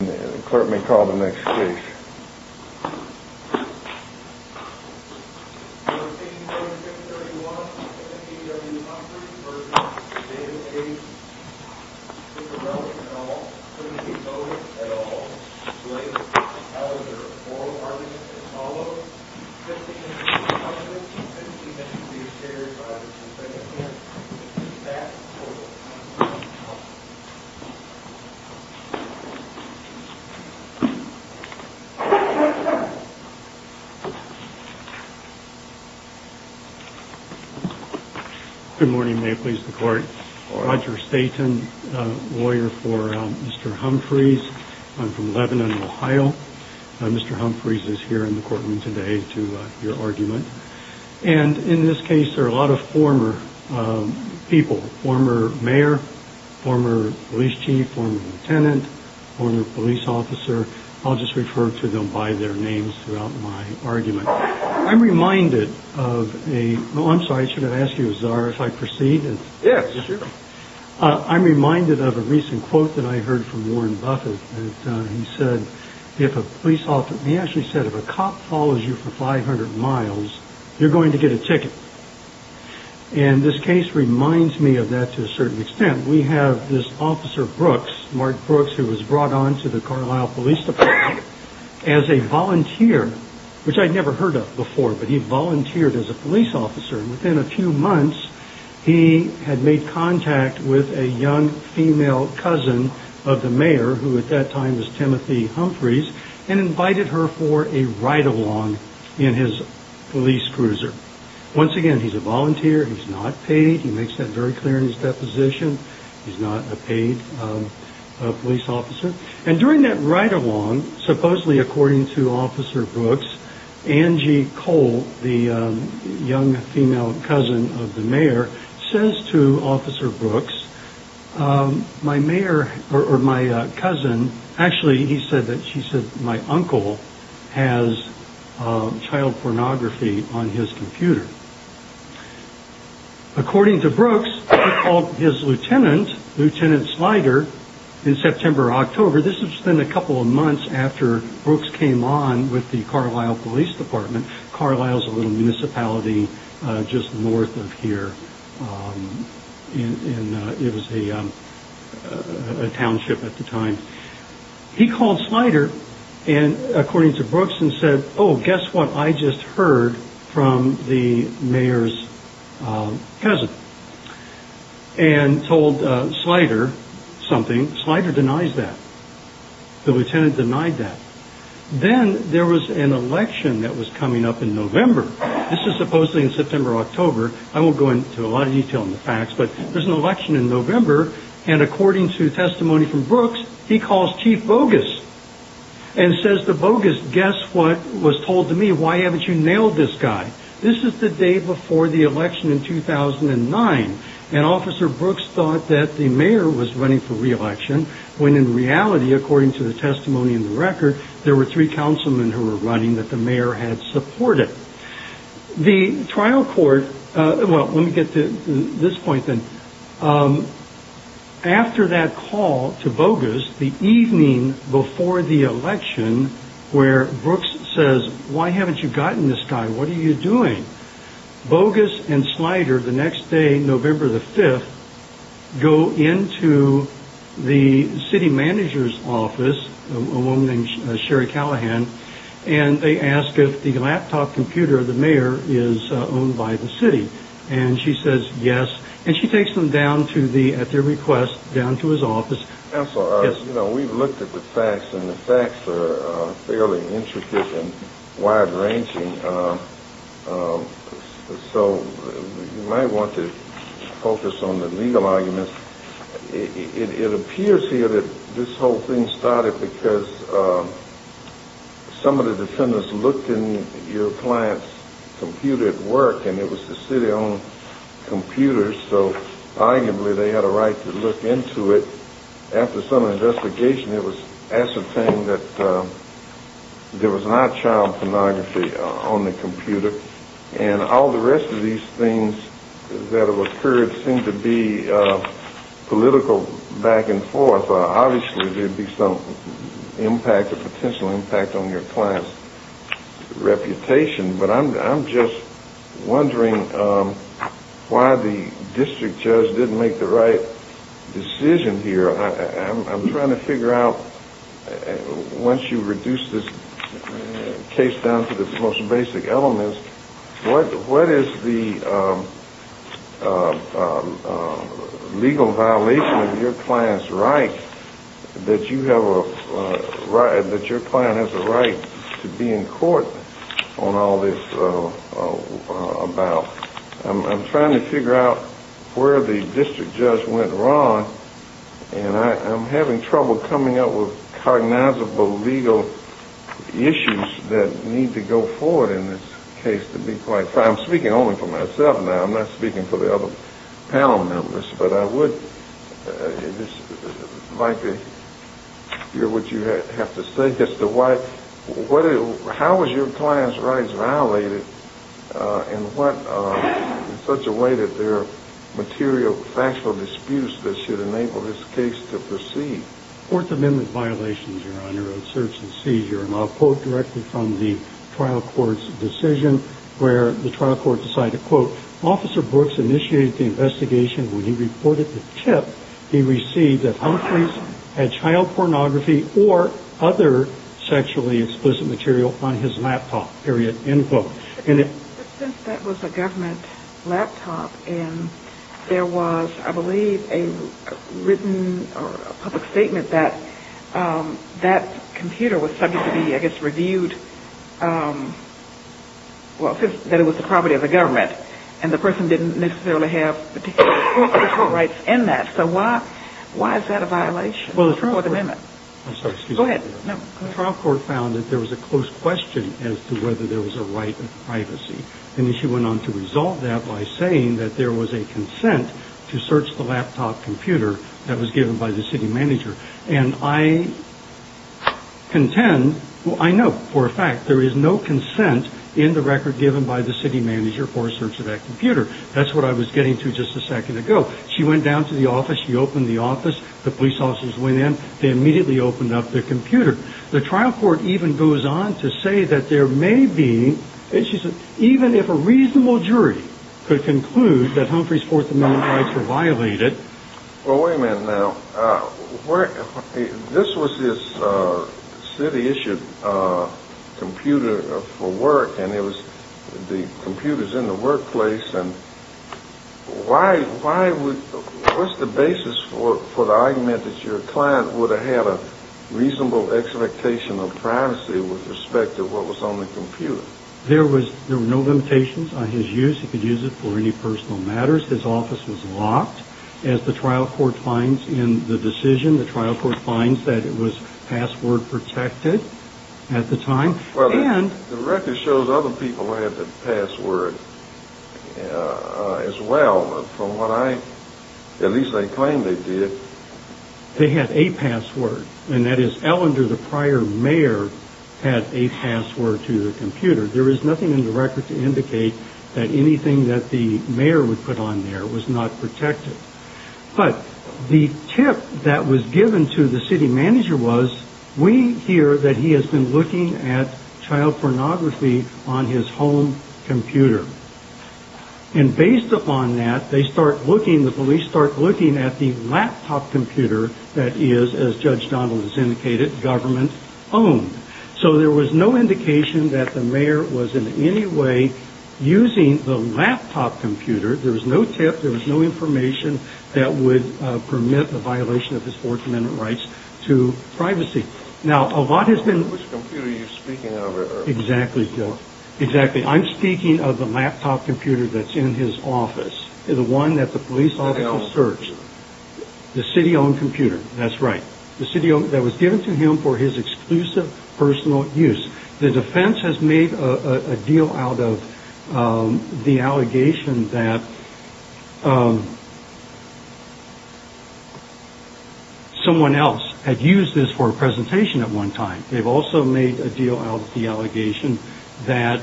The clerk may call the next case. No. 184631, MFBW Pumphries v. David A. Chicarelli, et al. There is not a motive at all related to the powers or oral arguments that follow. 15 minutes of discussion. 15 minutes will be shared by the defendant here. Please pass the board. Good morning. May it please the court. Roger Staton, lawyer for Mr. Humphries. I'm from Lebanon, Ohio. Mr. Humphries is here in the courtroom today to your argument. And in this case, there are a lot of former people, former mayor, former police chief, former lieutenant, former police officer. I'll just refer to them by their names throughout my argument. I'm reminded of a. I'm sorry, I should have asked you if I proceed. Yes. I'm reminded of a recent quote that I heard from Warren Buffett. And he said, if a police officer, he actually said, if a cop follows you for 500 miles, you're going to get a ticket. And this case reminds me of that to a certain extent. We have this officer Brooks, Mark Brooks, who was brought on to the Carlyle Police Department as a volunteer, which I'd never heard of before. But he volunteered as a police officer. And within a few months, he had made contact with a young female cousin of the mayor who at that time was Timothy Humphries and invited her for a ride along in his police cruiser. Once again, he's a volunteer. He's not paid. He makes that very clear in his deposition. He's not a paid police officer. And during that ride along, supposedly according to Officer Brooks, Angie Cole, the young female cousin of the mayor, says to Officer Brooks, my mayor or my cousin. Actually, he said that she said my uncle has child pornography on his computer. According to Brooks, he called his lieutenant, Lieutenant Slider in September, October. This was then a couple of months after Brooks came on with the Carlyle Police Department. Carlyle is a little municipality just north of here. And it was a township at the time. He called Slider and according to Brooks and said, oh, guess what? I just heard from the mayor's cousin and told Slider something. Slider denies that the lieutenant denied that. Then there was an election that was coming up in November. This is supposedly in September, October. I won't go into a lot of detail on the facts, but there's an election in November. And according to testimony from Brooks, he calls Chief Bogus and says to Bogus, guess what was told to me? Why haven't you nailed this guy? This is the day before the election in 2009. And Officer Brooks thought that the mayor was running for reelection when in reality, according to the testimony in the record, there were three councilmen who were running that the mayor had supported. The trial court, well, let me get to this point then. After that call to Bogus, the evening before the election where Brooks says, why haven't you gotten this guy? What are you doing? Bogus and Slider the next day, November the 5th, go into the city manager's office, a woman named Sherry Callahan. And they ask if the laptop computer of the mayor is owned by the city. And she says yes. And she takes them down to the, at their request, down to his office. Counsel, you know, we've looked at the facts and the facts are fairly intricate and wide ranging. So you might want to focus on the legal arguments. It appears here that this whole thing started because some of the defendants looked in your client's computer at work and it was the city-owned computer. So arguably they had a right to look into it. After some investigation, it was ascertained that there was not child pornography on the computer. And all the rest of these things that have occurred seem to be political back and forth. Obviously there'd be some impact, a potential impact on your client's reputation. But I'm just wondering why the district judge didn't make the right decision here. I'm trying to figure out, once you reduce this case down to the most basic elements, what is the legal violation of your client's right, that your client has a right to be in court on all this about. I'm trying to figure out where the district judge went wrong. And I'm having trouble coming up with cognizable legal issues that need to go forward in this case to be quite fair. I'm speaking only for myself now. I'm not speaking for the other panel members. But I would like to hear what you have to say as to why, how was your client's rights violated in such a way that there are material factual disputes that should enable this case to proceed? Fourth Amendment violations, Your Honor, of search and seizure. And I'll quote directly from the trial court's decision where the trial court decided, quote, Since that was a government laptop and there was, I believe, a written or public statement that that computer was subject to be, I guess, reviewed, that it was the property of the government. And the person didn't necessarily have particular rights in that. So why is that a violation of the Fourth Amendment? Go ahead. The trial court found that there was a close question as to whether there was a right of privacy. And she went on to resolve that by saying that there was a consent to search the laptop computer that was given by the city manager. And I contend, I know for a fact there is no consent in the record given by the city manager for a search of that computer. That's what I was getting to just a second ago. She went down to the office. She opened the office. The police officers went in. They immediately opened up the computer. The trial court even goes on to say that there may be, even if a reasonable jury could conclude that Humphrey's Fourth Amendment rights were violated. Well, wait a minute now. This was this city-issued computer for work, and it was the computers in the workplace. And why would, what's the basis for the argument that your client would have had a reasonable expectation of privacy with respect to what was on the computer? There were no limitations on his use. He could use it for any personal matters. His office was locked. As the trial court finds in the decision, the trial court finds that it was password protected at the time. Well, the record shows other people had the password as well. From what I, at least they claim they did. They had a password, and that is Ellender, the prior mayor, had a password to the computer. There is nothing in the record to indicate that anything that the mayor would put on there was not protected. But the tip that was given to the city manager was, we hear that he has been looking at child pornography on his home computer. And based upon that, they start looking, the police start looking at the laptop computer that is, as Judge Donald has indicated, government-owned. So there was no indication that the mayor was in any way using the laptop computer. There was no tip. There was no information that would permit the violation of his Fourth Amendment rights to privacy. Now, a lot has been... Which computer are you speaking of? Exactly, Joe. Exactly. I'm speaking of the laptop computer that's in his office, the one that the police officer searched. City-owned computer. The city-owned computer. That's right. That was given to him for his exclusive personal use. The defense has made a deal out of the allegation that someone else had used this for a presentation at one time. They've also made a deal out of the allegation that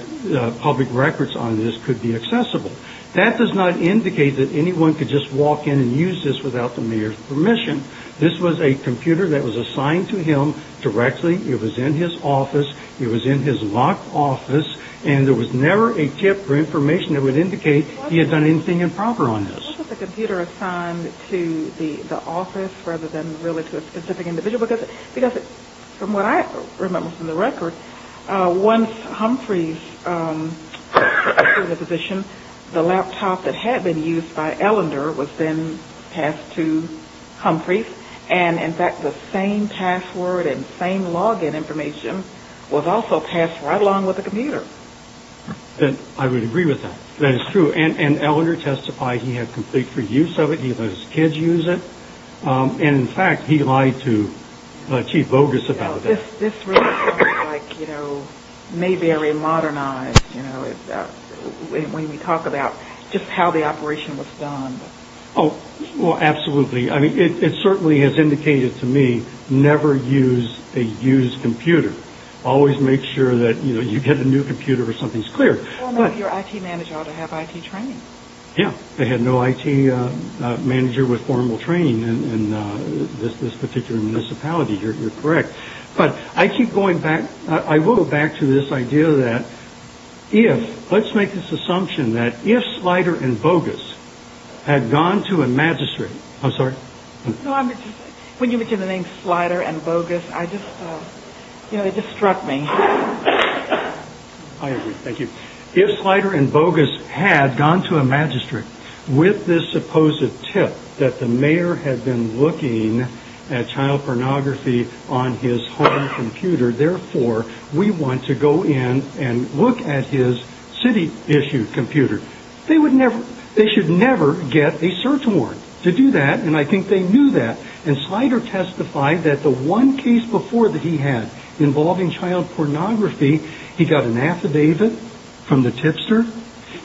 public records on this could be accessible. That does not indicate that anyone could just walk in and use this without the mayor's permission. This was a computer that was assigned to him directly. It was in his office. It was in his locked office. And there was never a tip or information that would indicate he had done anything improper on this. Why was the computer assigned to the office rather than really to a specific individual? Because from what I remember from the record, once Humphrey was in the position, the laptop that had been used by Ellender was then passed to Humphrey. And, in fact, the same password and same login information was also passed right along with the computer. I would agree with that. That is true. And Ellender testified he had complete free use of it. He let his kids use it. And, in fact, he lied to Chief Bogus about that. This really sounds like, you know, Mayberry modernized, you know, when we talk about just how the operation was done. Oh, well, absolutely. I mean, it certainly has indicated to me never use a used computer. Always make sure that, you know, you get a new computer or something's cleared. Well, maybe your IT manager ought to have IT training. Yeah, they had no IT manager with formal training in this particular municipality. You're correct. But I keep going back. I will go back to this idea that if let's make this assumption that if Slider and Bogus had gone to a magistrate. I'm sorry. When you mention the name Slider and Bogus, I just, you know, it just struck me. I agree. Thank you. If Slider and Bogus had gone to a magistrate with this supposed tip that the mayor had been looking at child pornography on his home computer. Therefore, we want to go in and look at his city issued computer. They would never. They should never get a search warrant to do that. And I think they knew that. And Slider testified that the one case before that he had involving child pornography, he got an affidavit from the tipster.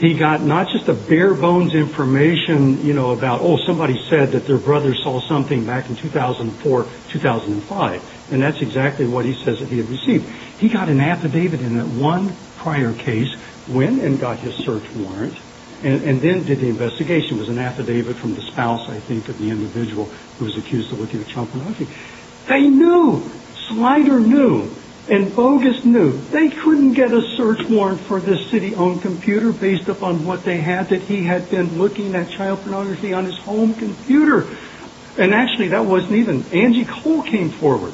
He got not just a bare bones information, you know, about, oh, somebody said that their brother saw something back in 2004, 2005. And that's exactly what he says that he had received. He got an affidavit in that one prior case, went and got his search warrant and then did the investigation. It was an affidavit from the spouse, I think, of the individual who was accused of looking at child pornography. They knew. Slider knew. And Bogus knew. They couldn't get a search warrant for this city-owned computer based upon what they had, that he had been looking at child pornography on his home computer. And actually, that wasn't even. Angie Cole came forward.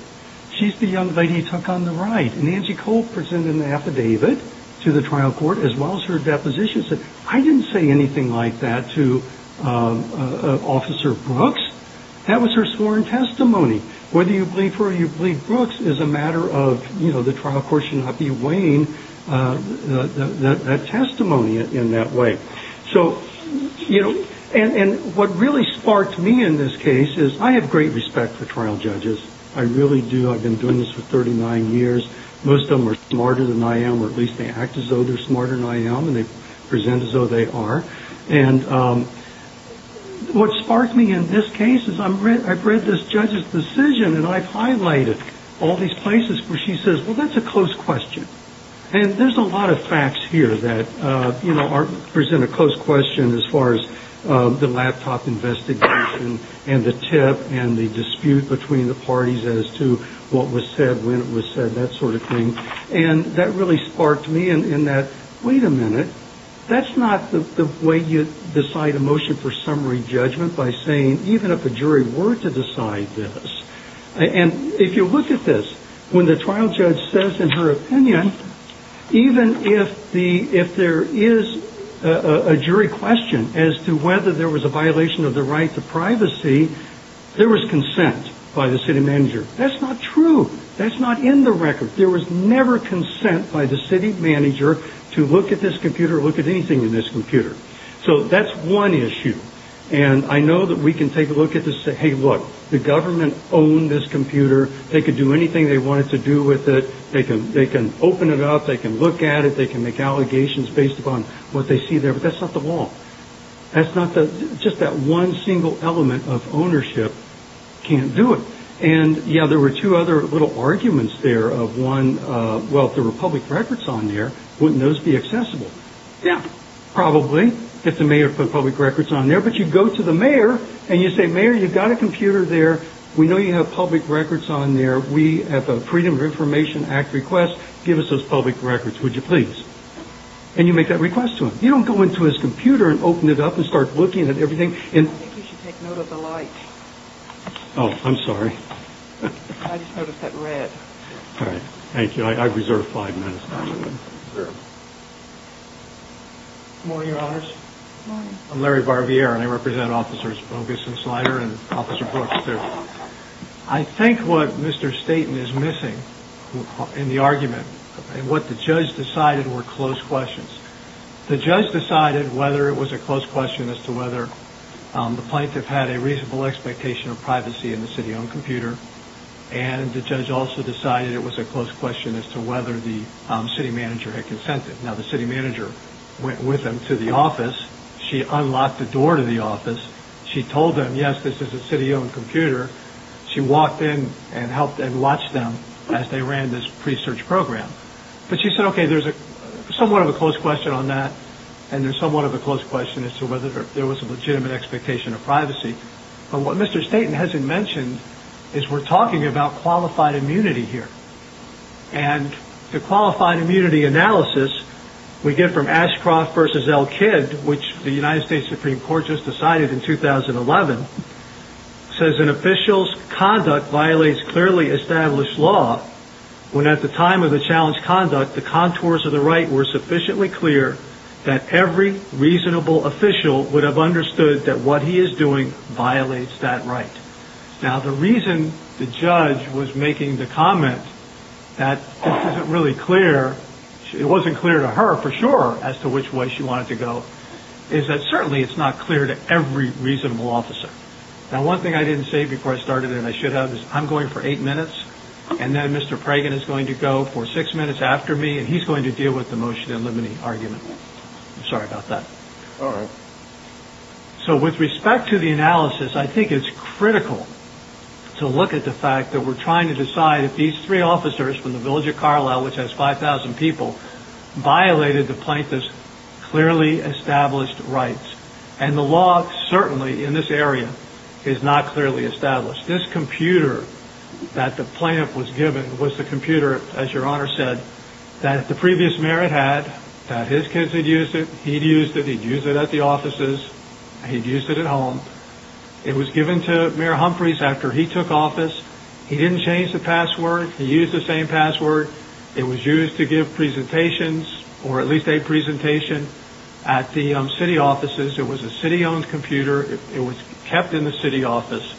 She's the young lady he took on the ride. And Angie Cole presented an affidavit to the trial court as well as her deposition. I didn't say anything like that to Officer Brooks. That was her sworn testimony. Whether you believe her or you believe Brooks is a matter of, you know, the trial court should not be weighing that testimony in that way. So, you know, and what really sparked me in this case is I have great respect for trial judges. I really do. I've been doing this for 39 years. Most of them are smarter than I am or at least they act as though they're smarter than I am and they present as though they are. And what sparked me in this case is I've read this judge's decision and I've highlighted all these places where she says, well, that's a close question. And there's a lot of facts here that, you know, present a close question as far as the laptop investigation and the tip and the dispute between the parties as to what was said, when it was said, that sort of thing. And that really sparked me in that, wait a minute, that's not the way you decide a motion for summary judgment by saying even if a jury were to decide this. And if you look at this, when the trial judge says in her opinion, even if there is a jury question as to whether there was a violation of the right to privacy, there was consent by the city manager. That's not true. That's not in the record. There was never consent by the city manager to look at this computer or look at anything in this computer. So that's one issue. And I know that we can take a look at this and say, hey, look, the government owned this computer. They could do anything they wanted to do with it. They can they can open it up. They can look at it. They can make allegations based upon what they see there. But that's not the law. That's not just that one single element of ownership can't do it. And, yeah, there were two other little arguments there of one. Well, the Republic records on there. Wouldn't those be accessible? Yeah, probably get the mayor for public records on there. But you go to the mayor and you say, Mayor, you've got a computer there. We know you have public records on there. We have a Freedom of Information Act request. Give us those public records, would you please? And you make that request to him. You don't go into his computer and open it up and start looking at everything. And you should take note of the light. I just noticed that red. All right. Thank you. I reserve five minutes. Morning, Your Honors. I'm Larry Barbier, and I represent Officers Bogus and Slider and Officer Brooks, too. I think what Mr. Staten is missing in the argument and what the judge decided were close questions. The judge decided whether it was a close question as to whether the plaintiff had a reasonable expectation of privacy in the city-owned computer. And the judge also decided it was a close question as to whether the city manager had consented. Now, the city manager went with them to the office. She unlocked the door to the office. She told them, yes, this is a city-owned computer. She walked in and helped them watch them as they ran this pre-search program. But she said, okay, there's somewhat of a close question on that. And there's somewhat of a close question as to whether there was a legitimate expectation of privacy. But what Mr. Staten hasn't mentioned is we're talking about qualified immunity here. And the qualified immunity analysis we get from Ashcroft v. L. Kidd, which the United States Supreme Court just decided in 2011, says an official's conduct violates clearly established law when at the time of the challenged conduct, the contours of the right were sufficiently clear that every reasonable official would have understood that what he is doing violates that right. Now, the reason the judge was making the comment that this isn't really clear, it wasn't clear to her for sure as to which way she wanted to go, is that certainly it's not clear to every reasonable officer. Now, one thing I didn't say before I started and I should have is I'm going for eight minutes, and then Mr. Pragin is going to go for six minutes after me, and he's going to deal with the motion eliminating argument. I'm sorry about that. All right. So with respect to the analysis, I think it's critical to look at the fact that we're trying to decide if these three officers from the village of Carlisle, which has 5,000 people, violated the plaintiff's clearly established rights. And the law certainly in this area is not clearly established. This computer that the plaintiff was given was the computer, as Your Honor said, that the previous mayor had had, that his kids had used it, he'd used it, he'd used it at the offices, he'd used it at home. It was given to Mayor Humphreys after he took office. He didn't change the password. He used the same password. It was used to give presentations or at least a presentation at the city offices. It was a city-owned computer. It was kept in the city office.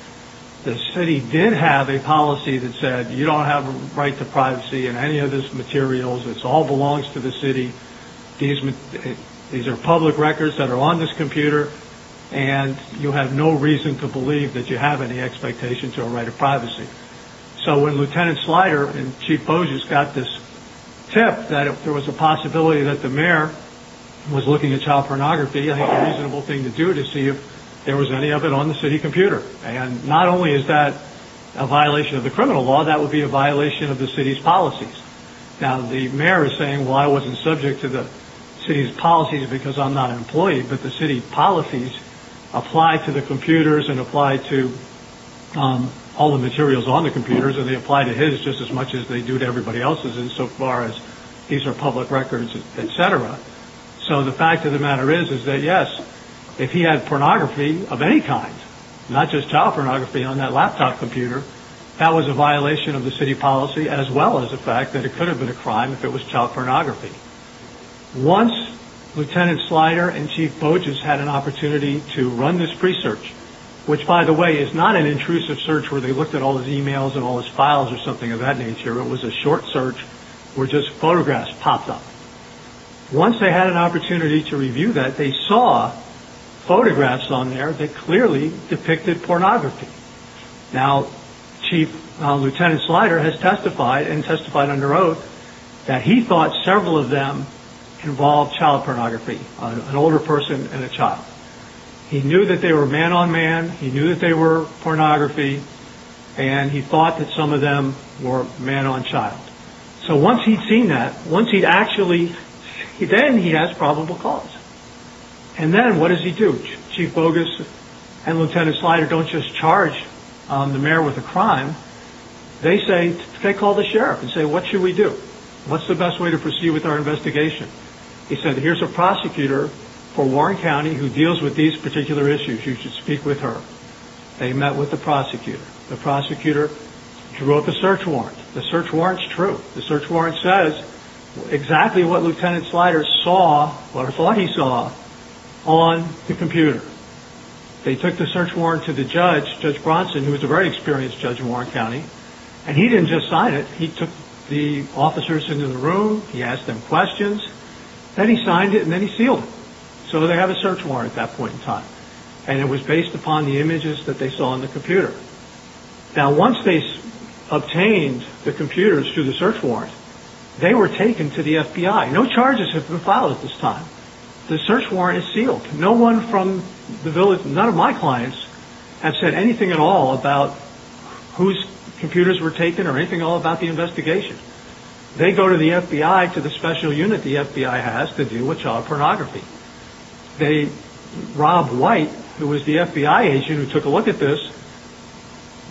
The city did have a policy that said you don't have a right to privacy in any of these materials. It all belongs to the city. These are public records that are on this computer, and you have no reason to believe that you have any expectation to a right of privacy. So when Lieutenant Slider and Chief Bozious got this tip that there was a possibility that the mayor was looking at child pornography, I think a reasonable thing to do is to see if there was any of it on the city computer. And not only is that a violation of the criminal law, that would be a violation of the city's policies. Now, the mayor is saying, well, I wasn't subject to the city's policies because I'm not an employee, but the city policies apply to the computers and apply to all the materials on the computers, and they apply to his just as much as they do to everybody else's insofar as these are public records, et cetera. So the fact of the matter is that, yes, if he had pornography of any kind, not just child pornography on that laptop computer, that was a violation of the city policy as well as the fact that it could have been a crime if it was child pornography. Once Lieutenant Slider and Chief Bozious had an opportunity to run this pre-search, which, by the way, is not an intrusive search where they looked at all his emails and all his files or something of that nature. It was a short search where just photographs popped up. Once they had an opportunity to review that, they saw photographs on there that clearly depicted pornography. Now, Chief Lieutenant Slider has testified and testified under oath that he thought several of them involved child pornography, an older person and a child. He knew that they were man-on-man. He knew that they were pornography, and he thought that some of them were man-on-child. So once he'd seen that, once he'd actually – then he has probable cause. And then what does he do? Chief Bozious and Lieutenant Slider don't just charge the mayor with a crime. They call the sheriff and say, what should we do? What's the best way to proceed with our investigation? He said, here's a prosecutor for Warren County who deals with these particular issues. You should speak with her. They met with the prosecutor. The prosecutor drew up a search warrant. The search warrant's true. The search warrant says exactly what Lieutenant Slider saw or thought he saw on the computer. They took the search warrant to the judge, Judge Bronson, who was a very experienced judge in Warren County. And he didn't just sign it. He took the officers into the room. He asked them questions. Then he signed it, and then he sealed it. So they have a search warrant at that point in time. And it was based upon the images that they saw on the computer. Now, once they obtained the computers through the search warrant, they were taken to the FBI. No charges have been filed at this time. The search warrant is sealed. None of my clients have said anything at all about whose computers were taken or anything at all about the investigation. They go to the FBI, to the special unit the FBI has to deal with child pornography. They, Rob White, who was the FBI agent who took a look at this,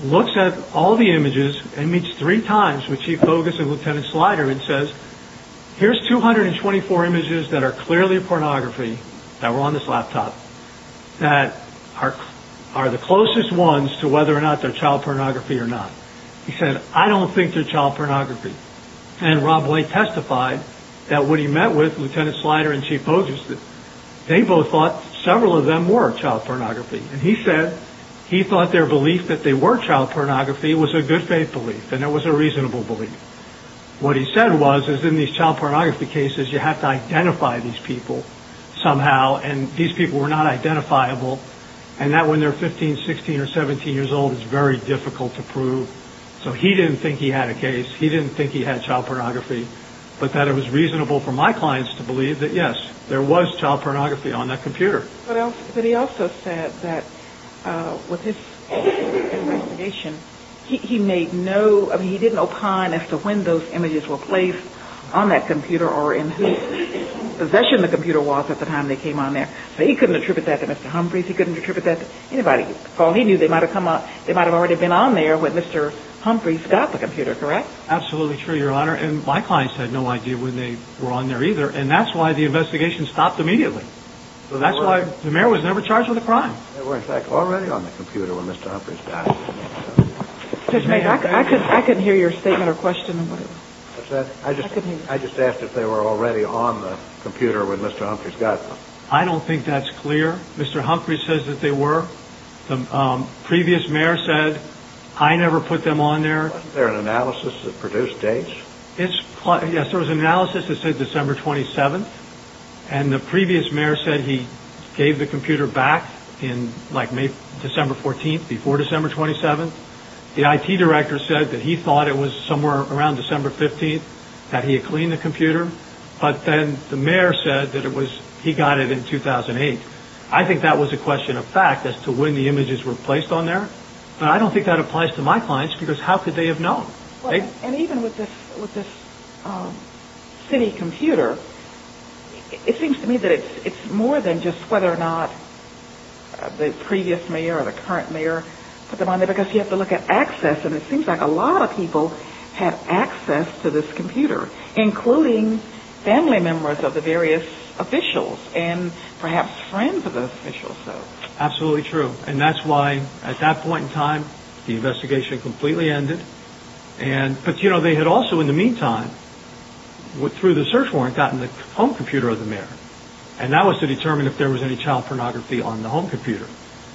looks at all the images and meets three times with Chief Bogus and Lieutenant Slider and says, here's 224 images that are clearly pornography that were on this laptop that are the closest ones to whether or not they're child pornography or not. He said, I don't think they're child pornography. And Rob White testified that when he met with Lieutenant Slider and Chief Bogus, they both thought several of them were child pornography. And he said he thought their belief that they were child pornography was a good faith belief. And it was a reasonable belief. What he said was, is in these child pornography cases, you have to identify these people somehow. And these people were not identifiable. And that when they're 15, 16 or 17 years old, it's very difficult to prove. So he didn't think he had a case. He didn't think he had child pornography. But that it was reasonable for my clients to believe that, yes, there was child pornography on that computer. But he also said that with his investigation, he made no – I mean, he didn't opine as to when those images were placed on that computer or in whose possession the computer was at the time they came on there. So he couldn't attribute that to Mr. Humphreys. He couldn't attribute that to anybody. Paul, he knew they might have come on – they might have already been on there when Mr. Humphreys got the computer, correct? Absolutely true, Your Honor. And my clients had no idea when they were on there either. And that's why the investigation stopped immediately. That's why the mayor was never charged with a crime. They were, in fact, already on the computer when Mr. Humphreys got it. I couldn't hear your statement or question. I just asked if they were already on the computer when Mr. Humphreys got them. I don't think that's clear. Mr. Humphreys says that they were. The previous mayor said, I never put them on there. Wasn't there an analysis that produced dates? It's – yes, there was an analysis that said December 27th. And the previous mayor said he gave the computer back in, like, May – December 14th, before December 27th. The IT director said that he thought it was somewhere around December 15th that he had cleaned the computer. But then the mayor said that it was – he got it in 2008. I think that was a question of fact as to when the images were placed on there. But I don't think that applies to my clients because how could they have known? And even with this city computer, it seems to me that it's more than just whether or not the previous mayor or the current mayor put them on there because you have to look at access. And it seems like a lot of people have access to this computer, including family members of the various officials and perhaps friends of the officials. Absolutely true. And that's why, at that point in time, the investigation completely ended. But, you know, they had also, in the meantime, through the search warrant, gotten the home computer of the mayor. And that was to determine if there was any child pornography on the home computer.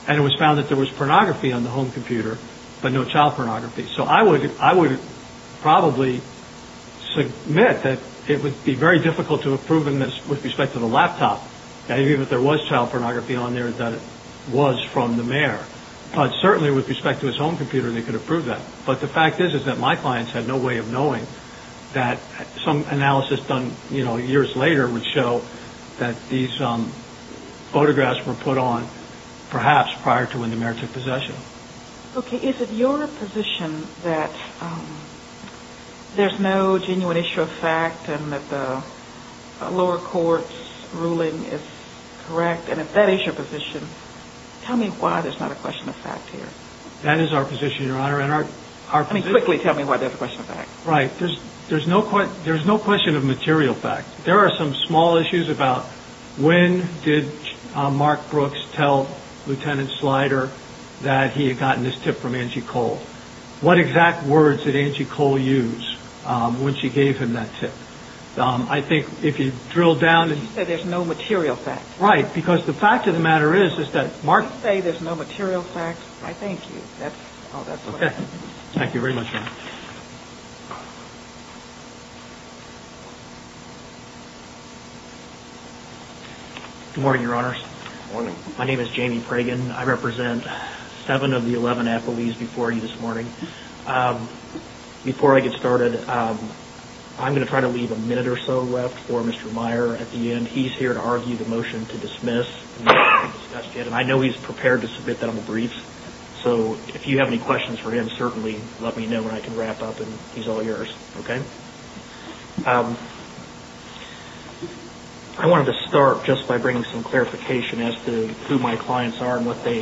And it was found that there was pornography on the home computer, but no child pornography. So I would probably submit that it would be very difficult to have proven this with respect to the laptop, that even if there was child pornography on there, that it was from the mayor. But certainly with respect to his home computer, they could have proved that. But the fact is that my clients had no way of knowing that some analysis done years later would show that these photographs were put on perhaps prior to when the mayor took possession. Okay. Is it your position that there's no genuine issue of fact and that the lower court's ruling is correct? And if that is your position, tell me why there's not a question of fact here. That is our position, Your Honor. And our position... I mean, quickly tell me why there's a question of fact. Right. There's no question of material fact. There are some small issues about when did Mark Brooks tell Lieutenant Slider that he had gotten this tip from Angie Cole? What exact words did Angie Cole use when she gave him that tip? I think if you drill down... She said there's no material fact. Right. Because the fact of the matter is that Mark... You say there's no material fact. I thank you. Okay. Thank you very much, Your Honor. Good morning, Your Honors. Good morning. My name is Jamie Pragin. I represent seven of the 11 affilies before you this morning. Before I get started, I'm going to try to leave a minute or so left for Mr. Meyer at the end. He's here to argue the motion to dismiss. And I know he's prepared to submit that on the brief. So if you have any questions for him, certainly let me know and I can wrap up and he's all yours. I wanted to start just by bringing some clarification as to who my clients are and what they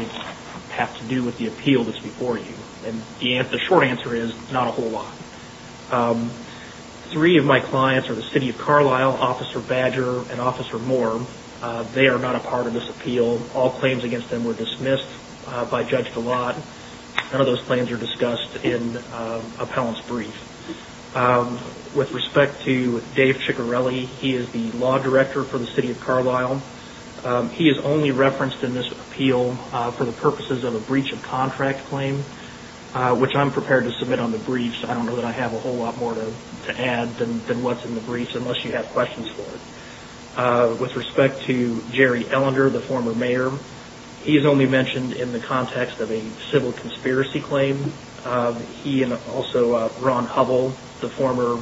have to do with the appeal that's before you. And the short answer is not a whole lot. Three of my clients are the City of Carlisle, Officer Badger and Officer Moore. They are not a part of this appeal. All claims against them were dismissed by Judge Gillotte. None of those claims are discussed in appellant's brief. With respect to Dave Ciccarelli, he is the law director for the City of Carlisle. He is only referenced in this appeal for the purposes of a breach of contract claim, which I'm prepared to submit on the brief, so I don't know that I have a whole lot more to add than what's in the brief, unless you have questions for it. With respect to Jerry Ellender, the former mayor, he is only mentioned in the context of a civil conspiracy claim. He and also Ron Hubbell, the former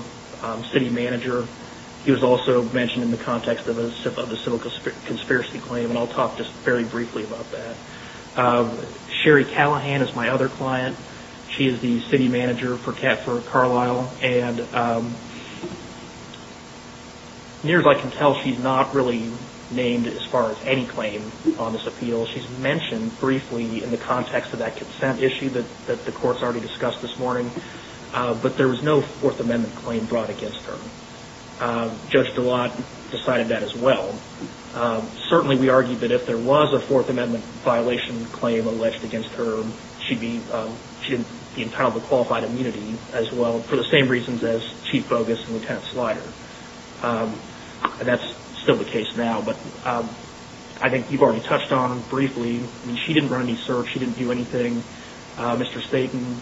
city manager, he was also mentioned in the context of a civil conspiracy claim and I'll talk just very briefly about that. Sherry Callahan is my other client. She is the city manager for Carlisle. And near as I can tell, she's not really named as far as any claim on this appeal. She's mentioned briefly in the context of that consent issue that the courts already discussed this morning, but there was no Fourth Amendment claim brought against her. Judge Gillotte decided that as well. Certainly we argue that if there was a Fourth Amendment violation claim alleged against her, she'd be entitled to qualified immunity as well. For the same reasons as Chief Bogus and Lieutenant Slider. That's still the case now, but I think you've already touched on it briefly. She didn't run any search. She didn't do anything. Mr. Staten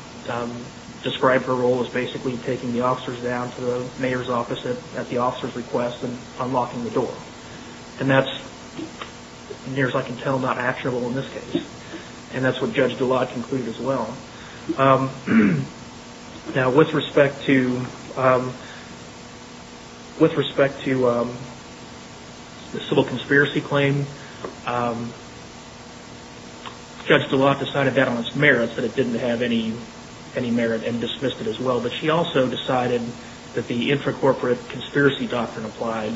described her role as basically taking the officers down to the mayor's office at the officer's request and unlocking the door. And that's, near as I can tell, not actionable in this case. And that's what Judge Gillotte concluded as well. Now, with respect to the civil conspiracy claim, Judge Gillotte decided that on its merits that it didn't have any merit and dismissed it as well. But she also decided that the intracorporate conspiracy doctrine applied,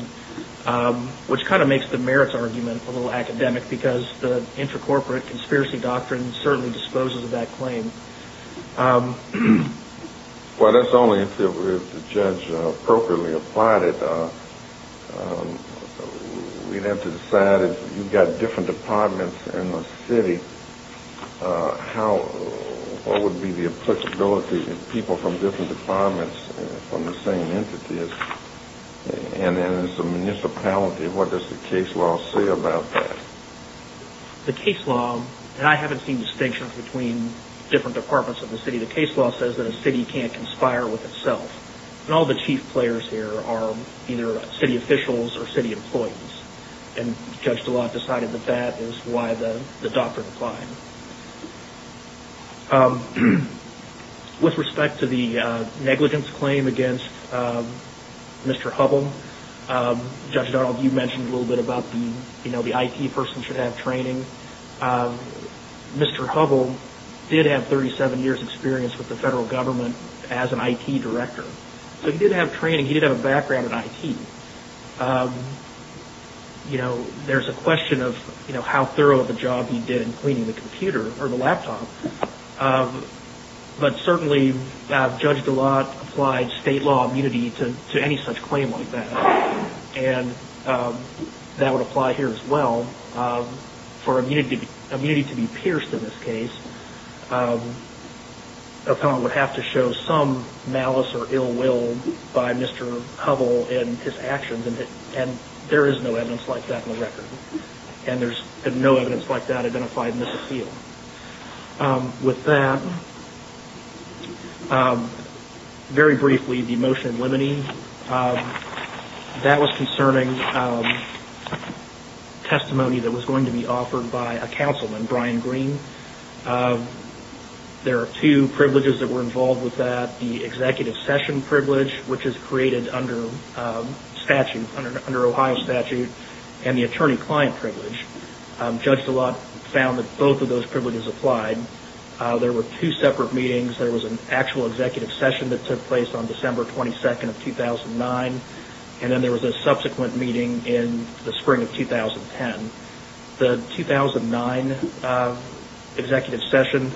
which kind of makes the merits argument a little academic because the intracorporate conspiracy doctrine certainly disposes of that claim. Well, that's only if the judge appropriately applied it. We'd have to decide if you've got different departments in the city, what would be the applicability of people from different departments from the same entity? And as a municipality, what does the case law say about that? The case law, and I haven't seen distinctions between different departments in the city, the case law says that a city can't conspire with itself. And all the chief players here are either city officials or city employees. And Judge Gillotte decided that that is why the doctrine applied. With respect to the negligence claim against Mr. Hubble, Judge Donald, you mentioned a little bit about the IT person should have training. Mr. Hubble did have 37 years' experience with the federal government as an IT director. So he did have training, he did have a background in IT. You know, there's a question of how thorough of a job he did in cleaning the computer or the laptop. But certainly, Judge Gillotte applied state law immunity to any such claim like that. And that would apply here as well. For immunity to be pierced in this case, an appellant would have to show some malice or ill will by Mr. Hubble in his actions. And there is no evidence like that in the record. And there's no evidence like that identified in this appeal. With that, very briefly, the motion of limiting. That was concerning testimony that was going to be offered by a councilman, Brian Green. There are two privileges that were involved with that. The executive session privilege, which is created under Ohio statute, and the attorney-client privilege. Judge Gillotte found that both of those privileges applied. There were two separate meetings. There was an actual executive session that took place on December 22nd of 2009. And then there was a subsequent meeting in the spring of 2010. The 2009 executive session,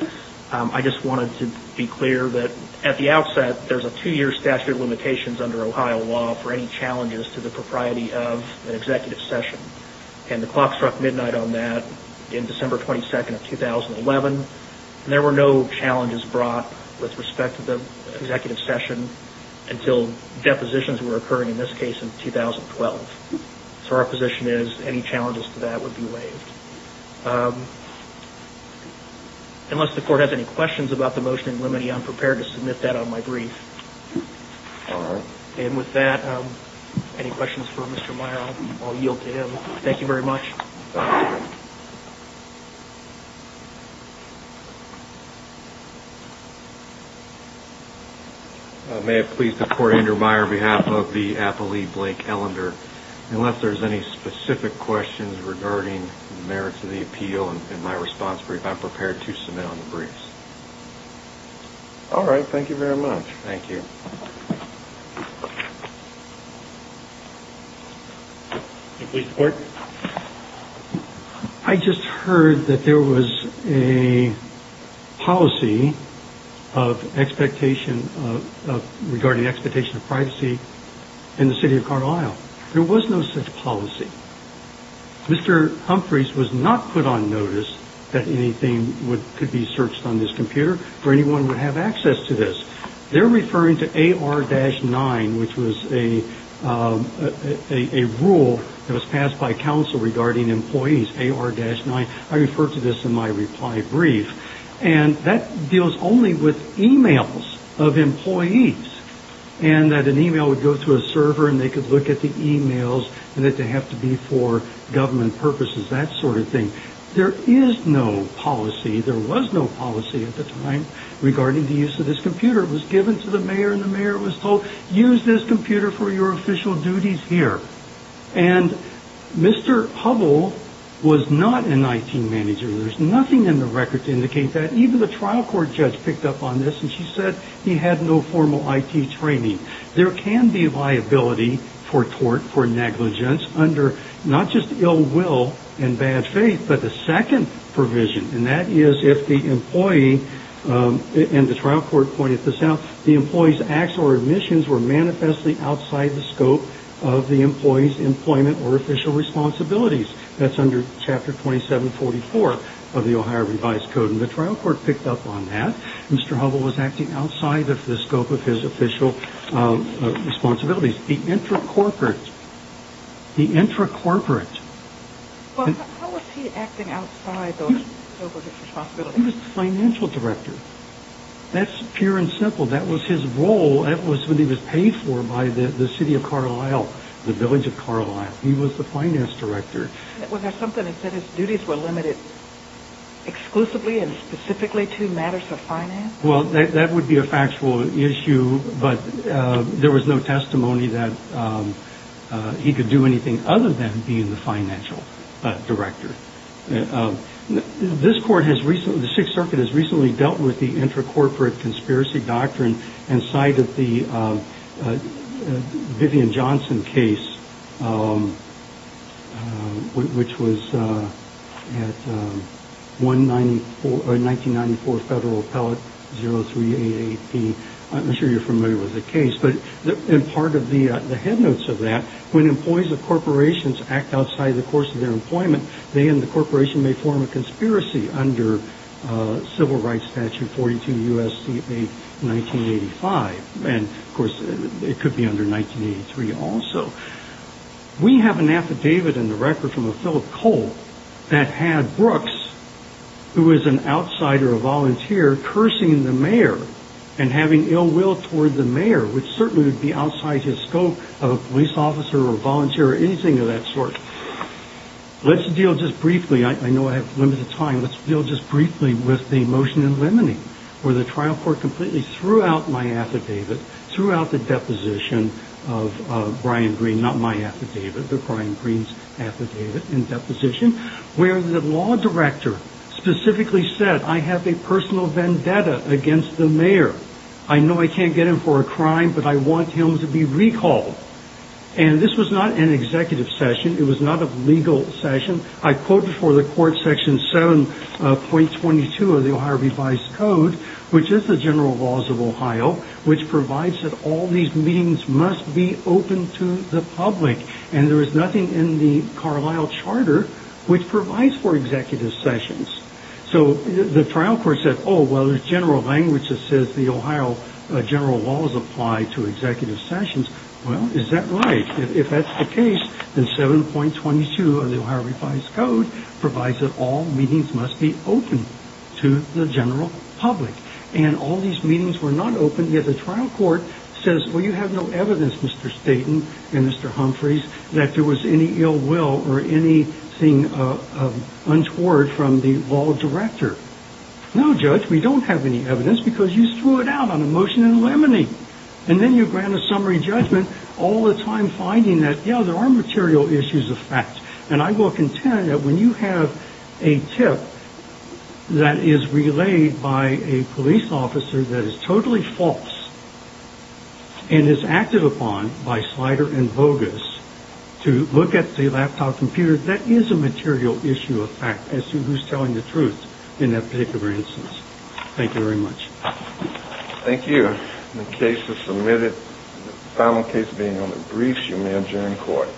I just wanted to be clear that at the outset, there's a two-year statute of limitations under Ohio law for any challenges to the propriety of an executive session. And the clock struck midnight on that in December 22nd of 2011. And there were no challenges brought with respect to the executive session until depositions were occurring in this case in 2012. So our position is any challenges to that would be waived. Unless the court has any questions about the motion in limiting, I'm prepared to submit that on my brief. And with that, any questions for Mr. Meyer, I'll yield to him. Thank you very much. May I please support Andrew Meyer on behalf of the appellee, Blake Ellender. Unless there's any specific questions regarding the merits of the appeal in my response brief, I'm prepared to submit on the briefs. All right. Thank you very much. Thank you. I just heard that there was a policy of expectation of regarding expectation of privacy in the city of Carlyle. There was no such policy. Mr. Humphreys was not put on notice that anything could be searched on this computer or anyone would have access to this. They're referring to AR-9, which was a rule that was passed by council regarding employees, AR-9. I refer to this in my reply brief. And that deals only with e-mails of employees and that an e-mail would go through a server and they could look at the e-mails and that they have to be for government purposes, that sort of thing. There is no policy. There was no policy at the time regarding the use of this computer. It was given to the mayor and the mayor was told, use this computer for your official duties here. And Mr. Hubbell was not an IT manager. There's nothing in the record to indicate that. Even the trial court judge picked up on this and she said he had no formal IT training. There can be liability for tort, for negligence under not just ill will and bad faith, but the second provision. And that is if the employee and the trial court pointed this out, the employee's acts or admissions were manifestly outside the scope of the employee's employment or official responsibilities. That's under Chapter 2744 of the Ohio Revised Code. And the trial court picked up on that. Mr. Hubbell was acting outside of the scope of his official responsibilities. The intracorporate, the intracorporate. How was he acting outside of his responsibilities? He was the financial director. That's pure and simple. That was his role. That was what he was paid for by the city of Carlisle, the village of Carlisle. He was the finance director. Was there something that said his duties were limited exclusively and specifically to matters of finance? Well, that would be a factual issue. But there was no testimony that he could do anything other than being the financial director. This court has recently, the Sixth Circuit has recently dealt with the intracorporate conspiracy doctrine and cited the Vivian Johnson case, which was 1994 Federal Appellate 0388P. I'm sure you're familiar with the case. But in part of the headnotes of that, when employees of corporations act outside the course of their employment, they and the corporation may form a conspiracy under Civil Rights Statute 42 U.S.C.A. 1985. And, of course, it could be under 1983 also. We have an affidavit in the record from a Philip Cole that had Brooks, who is an outsider, a volunteer, cursing the mayor and having ill will toward the mayor, which certainly would be outside his scope of a police officer or volunteer or anything of that sort. Let's deal just briefly, I know I have limited time, let's deal just briefly with the motion in limine, where the trial court completely threw out my affidavit, threw out the deposition of Brian Greene, not my affidavit, but Brian Greene's affidavit and deposition, where the law director specifically said, I have a personal vendetta against the mayor. I know I can't get him for a crime, but I want him to be recalled. And this was not an executive session. It was not a legal session. I quote before the court section 7.22 of the Ohio Revised Code, which is the general laws of Ohio, which provides that all these meetings must be open to the public. And there is nothing in the Carlisle Charter which provides for executive sessions. So the trial court said, oh, well, there's general language that says the Ohio general laws apply to executive sessions. Well, is that right? If that's the case, then 7.22 of the Ohio Revised Code provides that all meetings must be open to the general public. And all these meetings were not open, yet the trial court says, well, you have no evidence, Mr. Staten and Mr. Humphreys, that there was any ill will or anything untoward from the law director. No, Judge, we don't have any evidence because you threw it out on a motion in limine. And then you grant a summary judgment all the time, finding that, you know, there are material issues of fact. And I will contend that when you have a tip that is relayed by a police officer that is totally false. And it's acted upon by slider and bogus to look at the laptop computer. That is a material issue of fact as to who's telling the truth in that particular instance. Thank you very much. Thank you. The case is submitted. The final case being on the briefs, you may adjourn court.